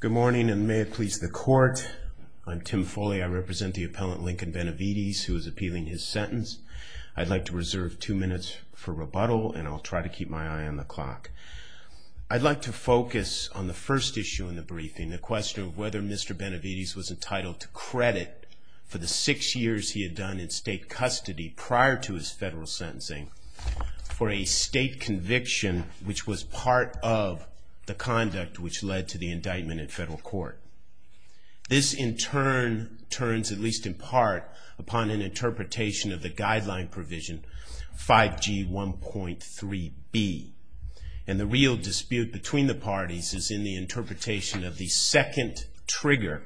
Good morning and may it please the court. I'm Tim Foley. I represent the appellant Lincoln Benavides who is appealing his sentence I'd like to reserve two minutes for rebuttal and I'll try to keep my eye on the clock I'd like to focus on the first issue in the briefing the question of whether mr. Benavides was entitled to credit For the six years he had done in state custody prior to his federal sentencing For a state conviction, which was part of the conduct which led to the indictment in federal court This in turn turns at least in part upon an interpretation of the guideline provision 5g 1.3b and the real dispute between the parties is in the interpretation of the second trigger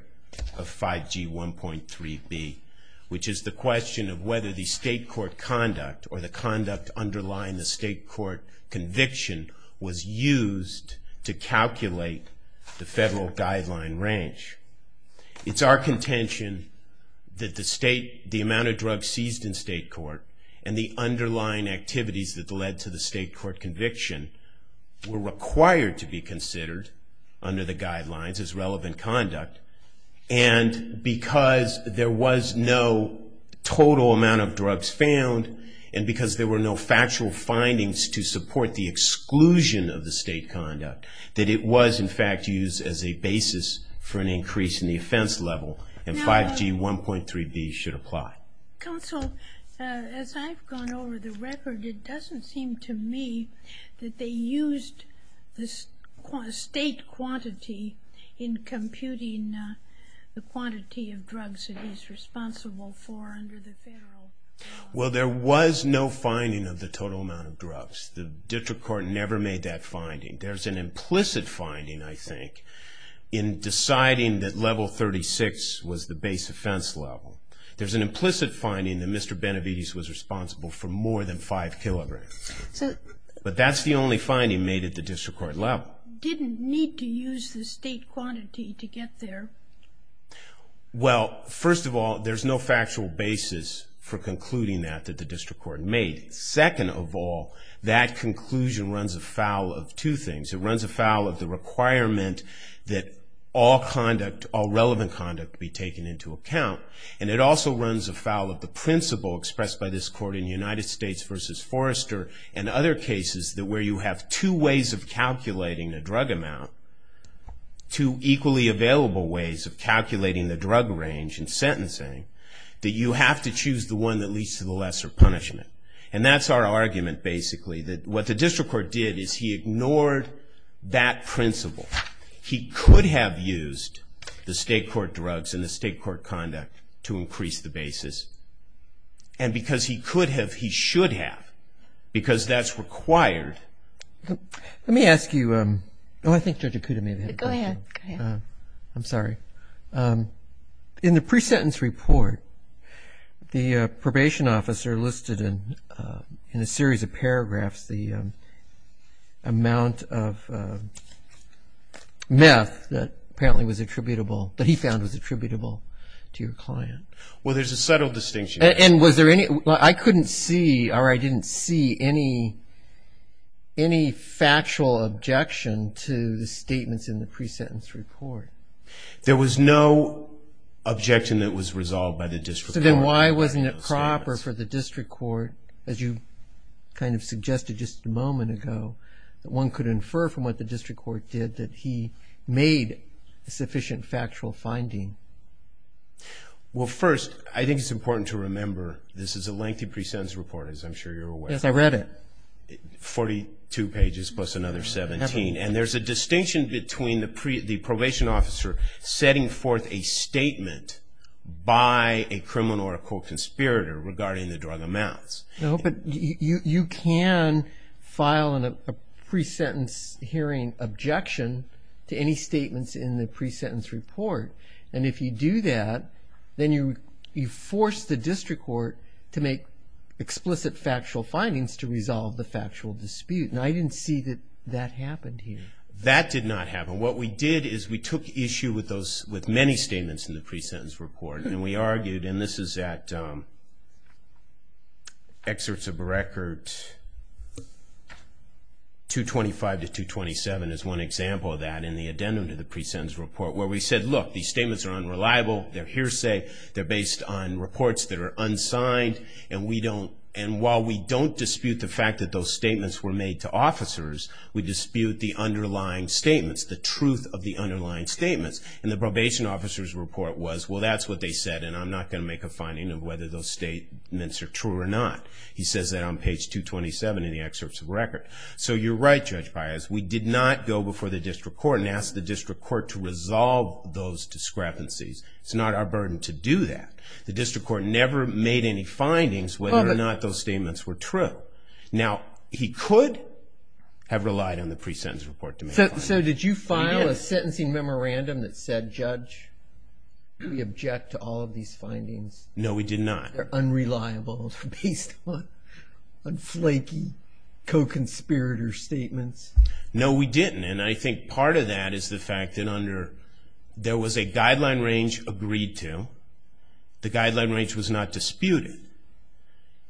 of 5g 1.3b, which is the question of whether the state court conduct or the conduct underlying the state court Conviction was used to calculate the federal guideline range It's our contention That the state the amount of drugs seized in state court and the underlying activities that led to the state court conviction were required to be considered under the guidelines as relevant conduct and Because there was no total amount of drugs found and because there were no factual findings to support the Exclusion of the state conduct that it was in fact used as a basis for an increase in the offense level and 5g 1.3b should apply Counsel as I've gone over the record. It doesn't seem to me that they used this state quantity in Computing the quantity of drugs it is responsible for Well, there was no finding of the total amount of drugs the district court never made that finding there's an implicit finding I think In deciding that level 36 was the base offense level. There's an implicit finding that mr Benevides was responsible for more than five kilograms But that's the only finding made at the district court level didn't need to use the state quantity to get there Well, first of all, there's no factual basis for concluding that that the district court made second of all that Conclusion runs afoul of two things. It runs afoul of the requirement that all Conduct all relevant conduct be taken into account and it also runs afoul of the principle expressed by this court in United States Forrester and other cases that where you have two ways of calculating the drug amount to equally available ways of calculating the drug range and Sentencing that you have to choose the one that leads to the lesser punishment and that's our argument Basically that what the district court did is he ignored that principle? he could have used the state court drugs and the state court conduct to increase the basis and Because he could have he should have Because that's required Let me ask you. Um, no, I think you could have maybe go ahead. I'm sorry in the pre-sentence report the probation officer listed in in a series of paragraphs the amount of Meth that apparently was attributable that he found was attributable to your client Well, there's a subtle distinction and was there any I couldn't see or I didn't see any Any factual objection to the statements in the pre-sentence report? There was no Objection that was resolved by the district. So then why wasn't it proper for the district court as you? Kind of suggested just a moment ago that one could infer from what the district court did that he made sufficient factual finding Well first I think it's important to remember this is a lengthy pre-sentence report as I'm sure you're aware if I read it 42 pages plus another 17 and there's a distinction between the pre the probation officer setting forth a statement By a criminal or a co-conspirator regarding the drug amounts. No, but you you can file in a Pre-sentence hearing objection to any statements in the pre-sentence report and if you do that Then you you force the district court to make Explicit factual findings to resolve the factual dispute and I didn't see that that happened here That did not happen What we did is we took issue with those with many statements in the pre-sentence report and we argued and this is that Excerpts of a record 225 To 227 is one example of that in the addendum to the pre-sentence report where we said look these statements are unreliable They're hearsay They're based on reports that are unsigned and we don't and while we don't dispute the fact that those statements were made to Officers we dispute the underlying statements the truth of the underlying statements and the probation officers report was well That's what they said and I'm not going to make a finding of whether those statements are true or not He says that on page 227 in the excerpts of record So you're right judge bias. We did not go before the district court and ask the district court to resolve those discrepancies It's not our burden to do that. The district court never made any findings whether or not those statements were true now he could Have relied on the pre-sentence report to me. So did you file a sentencing memorandum that said judge? We object to all of these findings, no, we did not they're unreliable based on flaky Co-conspirator statements. No, we didn't and I think part of that is the fact that under there was a guideline range agreed to the guideline range was not disputed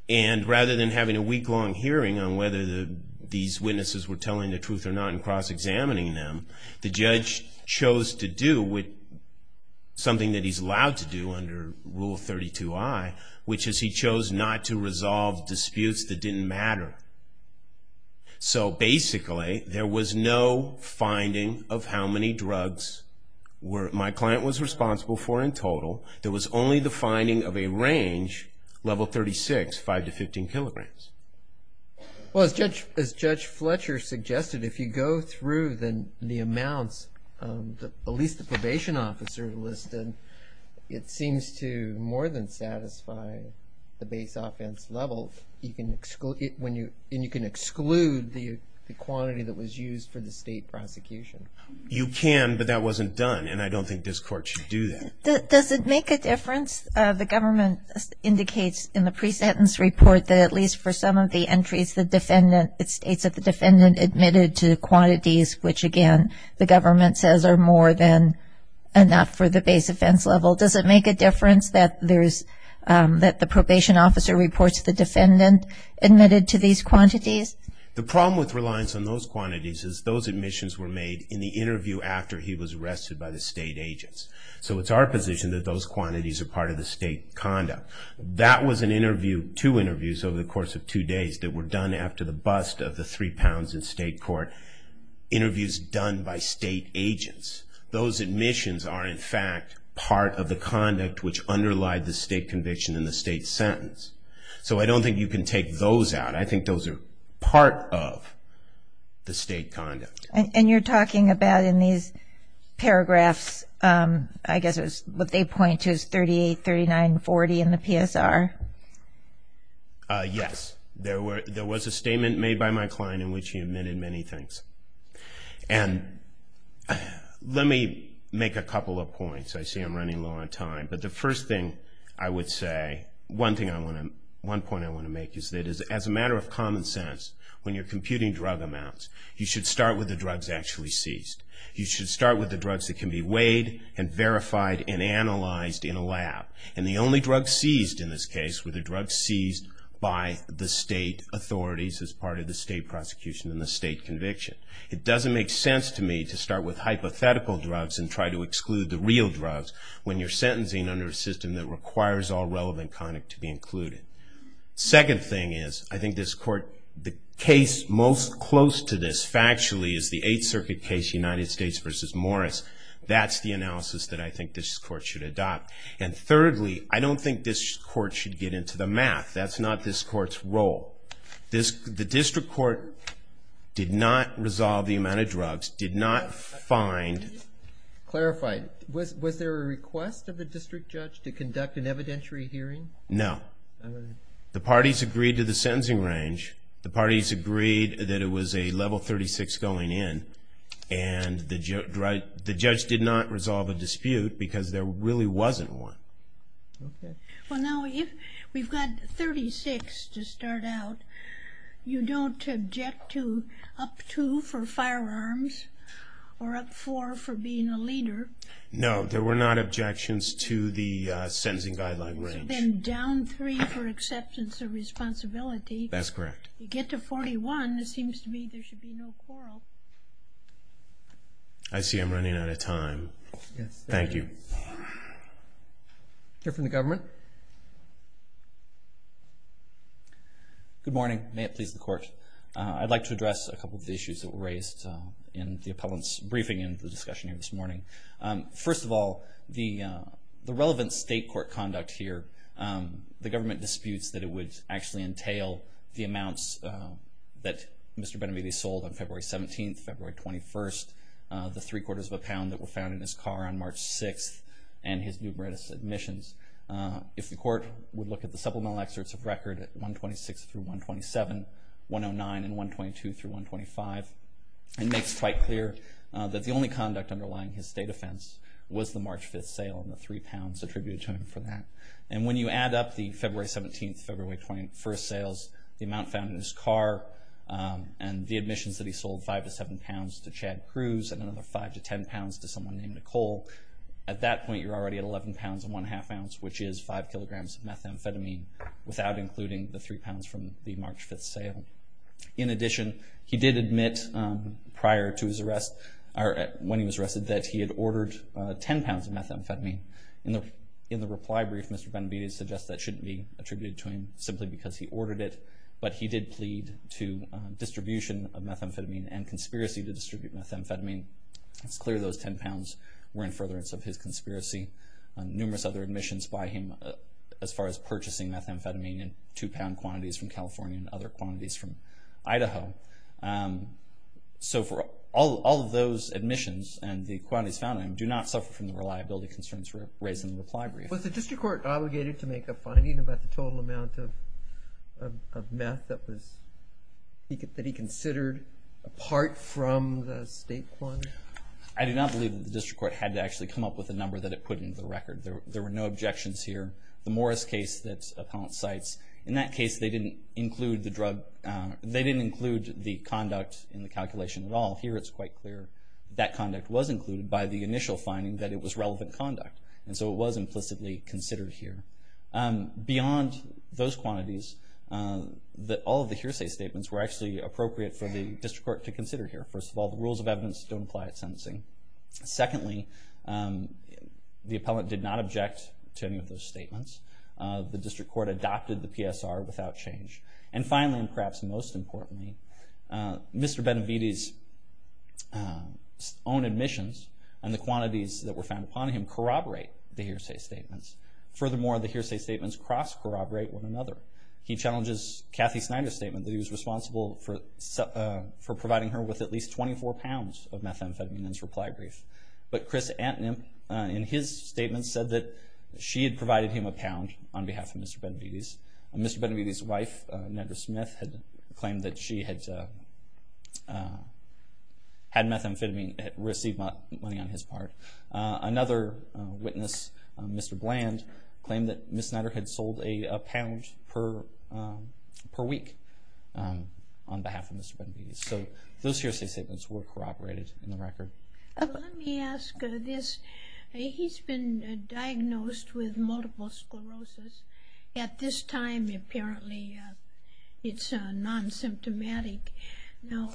and Rather than having a week-long hearing on whether the these witnesses were telling the truth or not and cross-examining them the judge chose to do with Something that he's allowed to do under rule 32. I which is he chose not to resolve disputes that didn't matter So basically there was no finding of how many drugs Were my client was responsible for in total. There was only the finding of a range level 36 5 to 15 kilograms Well as judge as judge Fletcher suggested if you go through then the amounts At least the probation officer listed it seems to more than satisfy The base offense level you can exclude it when you and you can exclude the the quantity that was used for the state prosecution You can but that wasn't done and I don't think this court should do that. Does it make a difference the government? Indicates in the pre-sentence report that at least for some of the entries the defendant it states that the defendant admitted to the quantities Which again the government says are more than and not for the base offense level. Does it make a difference that there's That the probation officer reports the defendant admitted to these quantities The problem with reliance on those quantities is those admissions were made in the interview after he was arrested by the state agents So it's our position that those quantities are part of the state conduct That was an interview two interviews over the course of two days that were done after the bust of the three pounds in state court Interviews done by state agents those admissions are in fact part of the conduct Which underlie the state conviction in the state sentence, so I don't think you can take those out. I think those are part of The state conduct and you're talking about in these Paragraphs, I guess it was what they point to is 38 39 40 in the PSR Yes, there were there was a statement made by my client in which he admitted many things and Let me make a couple of points I see I'm running low on time But the first thing I would say one thing I want to one point I want to make is that is as a matter of common sense when you're computing drug amounts You should start with the drugs actually seized You should start with the drugs that can be weighed and verified and analyzed in a lab and the only drug seized in this case Were the drugs seized by the state authorities as part of the state prosecution in the state conviction It doesn't make sense to me to start with hypothetical drugs and try to exclude the real drugs When you're sentencing under a system that requires all relevant conduct to be included Second thing is I think this court the case most close to this factually is the Eighth Circuit case United States versus Morris That's the analysis that I think this court should adopt and thirdly, I don't think this court should get into the math That's not this court's role this the district court Did not resolve the amount of drugs did not find Clarified was there a request of the district judge to conduct an evidentiary hearing? No the parties agreed to the sentencing range the parties agreed that it was a level 36 going in and Right, the judge did not resolve a dispute because there really wasn't one Well now if we've got 36 to start out You don't object to up to for firearms or up for for being a leader No, there were not objections to the sentencing guideline range and down three for acceptance of responsibility That's correct. You get to 41. This seems to me there should be no quarrel I'd see I'm running out of time. Yes. Thank you Here from the government Good morning, may it please the court I'd like to address a couple of the issues that were raised in the appellants briefing in the discussion here this morning first of all the the relevant state court conduct here The government disputes that it would actually entail the amounts that mr. Benavides sold on February 17th, February 21st The three-quarters of a pound that were found in his car on March 6th and his numerous admissions If the court would look at the supplemental excerpts of record at 126 through 127 109 and 122 through 125 It makes quite clear That the only conduct underlying his state offense Was the March 5th sale and the three pounds attributed to him for that and when you add up the February 17th February 21st sales the amount found in his car And the admissions that he sold 5 to 7 pounds to Chad Cruz and another 5 to 10 pounds to someone named Nicole At that point you're already at 11 pounds and 1 1⁄2 ounce Which is 5 kilograms of methamphetamine without including the 3 pounds from the March 5th sale In addition, he did admit Prior to his arrest or when he was arrested that he had ordered 10 pounds of methamphetamine in the in the reply brief Mr. Benavides suggests that shouldn't be attributed to him simply because he ordered it but he did plead to Distribution of methamphetamine and conspiracy to distribute methamphetamine. It's clear Those 10 pounds were in furtherance of his conspiracy Numerous other admissions by him as far as purchasing methamphetamine and two-pound quantities from California and other quantities from Idaho So for all of those admissions and the quantities found I do not suffer from the reliability concerns for raising the reply brief was the district court obligated to make a finding about the total amount of Meth that was He could that he considered apart from the state one I do not believe that the district court had to actually come up with a number that it put into the record there There were no objections here the Morris case that's appellant sites in that case. They didn't include the drug They didn't include the conduct in the calculation at all here It's quite clear that conduct was included by the initial finding that it was relevant conduct. And so it was implicitly considered here Beyond those quantities That all of the hearsay statements were actually appropriate for the district court to consider here First of all, the rules of evidence don't apply at sentencing secondly The appellant did not object to any of those statements The district court adopted the PSR without change and finally and perhaps most importantly Mr. Benavides Own admissions and the quantities that were found upon him corroborate the hearsay statements furthermore the hearsay statements cross corroborate one another he challenges Kathy Snyder statement that he was responsible for For providing her with at least 24 pounds of methamphetamine in his reply brief But Chris Antonin in his statement said that she had provided him a pound on behalf of mr. Benavides Mr. Benavides wife Nedra Smith had claimed that she had Had methamphetamine received money on his part Another witness, mr. Bland claimed that Miss Snyder had sold a pound per per week On behalf of mr. Benavides, so those hearsay statements were corroborated in the record He's been diagnosed with multiple sclerosis at this time apparently It's a non-symptomatic now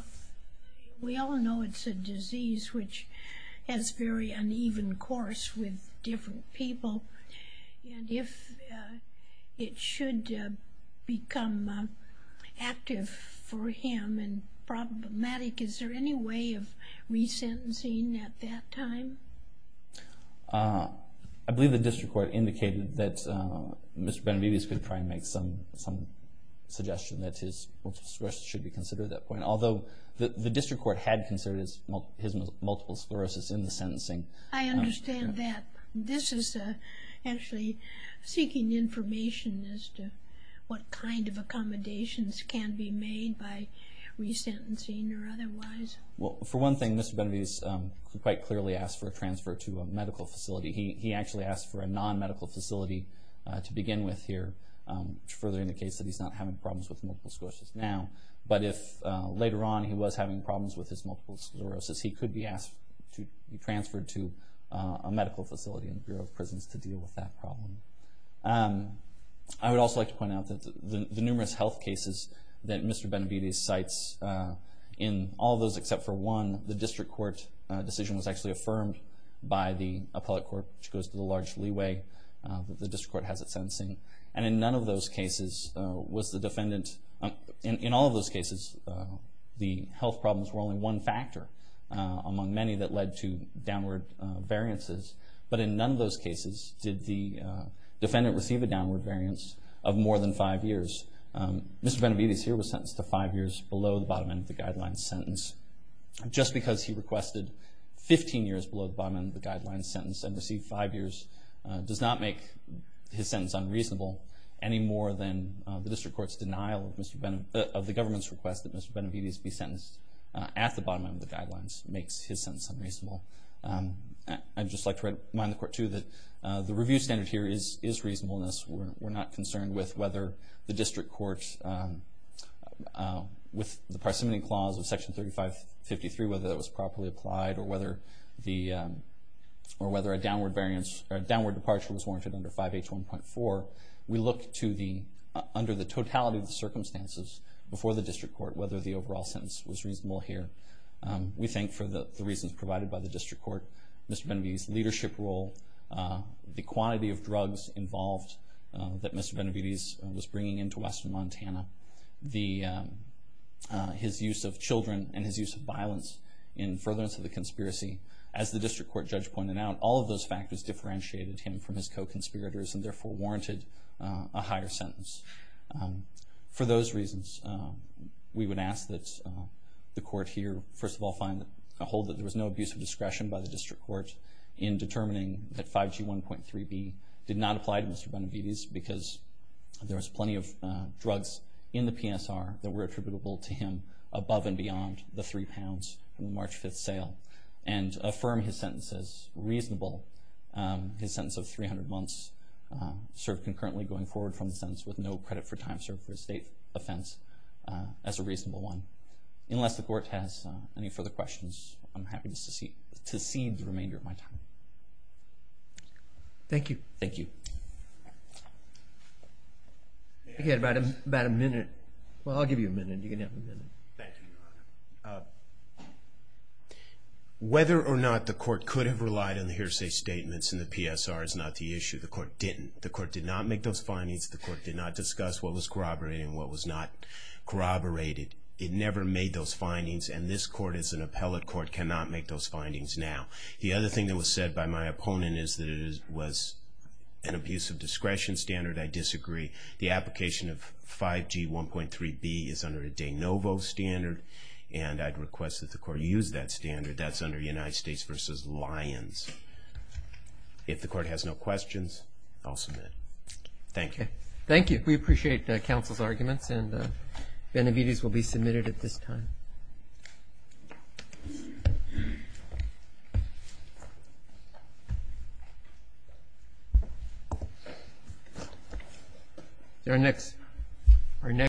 We all know it's a disease which has very uneven course with different people and if it should become Active for him and problematic. Is there any way of resentencing at that time I believe the district court indicated that Mr. Benavides could try and make some some Should be considered at that point, although the district court had considered his multiple sclerosis in the sentencing I understand that this is actually seeking information as to what kind of accommodations can be made by Resentencing or otherwise. Well for one thing. Mr. Benavides quite clearly asked for a transfer to a medical facility He actually asked for a non-medical facility to begin with here Further indicates that he's not having problems with multiple sclerosis now But if later on he was having problems with his multiple sclerosis He could be asked to be transferred to a medical facility in the Bureau of Prisons to deal with that problem I would also like to point out that the numerous health cases that mr. Benavides cites In all those except for one the district court decision was actually affirmed by the appellate court which goes to the large leeway But the district court has it sentencing and in none of those cases was the defendant in all of those cases The health problems were only one factor among many that led to downward variances, but in none of those cases did the Defendant receive a downward variance of more than five years Mr. Benavides here was sentenced to five years below the bottom end of the guidelines sentence Just because he requested 15 years below the bottom end of the guidelines sentence and received five years Does not make his sentence unreasonable any more than the district court's denial of mr. Benham of the government's request that mr. Benavides be sentenced at the bottom end of the guidelines makes his sentence unreasonable I'd just like to remind the court to that the review standard here is is reasonableness We're not concerned with whether the district courts With the parsimony clause of section 3553 whether that was properly applied or whether the Or whether a downward variance or a downward departure was warranted under 5h 1.4 We look to the under the totality of the circumstances before the district court whether the overall sentence was reasonable here We thank for the reasons provided by the district court. Mr. Benavides leadership role The quantity of drugs involved that mr. Benavides was bringing into Western, Montana the his use of children and his use of violence in Furtherance of the conspiracy as the district court judge pointed out all of those factors Differentiated him from his co-conspirators and therefore warranted a higher sentence for those reasons We would ask that The court here first of all find a hold that there was no abuse of discretion by the district court in Determining that 5g 1.3b did not apply to mr. Benavides because there was plenty of drugs in the PSR that were attributable to Him above and beyond the three pounds in the March 5th sale and affirm his sentences reasonable his sentence of 300 months Served concurrently going forward from the sentence with no credit for time served for a state offense As a reasonable one unless the court has any further questions, I'm happy to see to see the remainder of my time Thank you, thank you Get about him about a minute. Well, I'll give you a minute you can have a minute Whether or not the court could have relied on the hearsay statements in the PSR is not the issue The court did not make those findings the court did not discuss what was corroborating what was not corroborated It never made those findings and this court is an appellate court cannot make those findings now The other thing that was said by my opponent is that it was an abuse of discretion standard I disagree the application of 5g 1.3b is under a de novo standard and I'd request that the court use that Standard that's under United States versus Lions If the court has no questions, I'll submit thank you. Thank you. We appreciate the council's arguments and Benevides will be submitted at this time Their next our next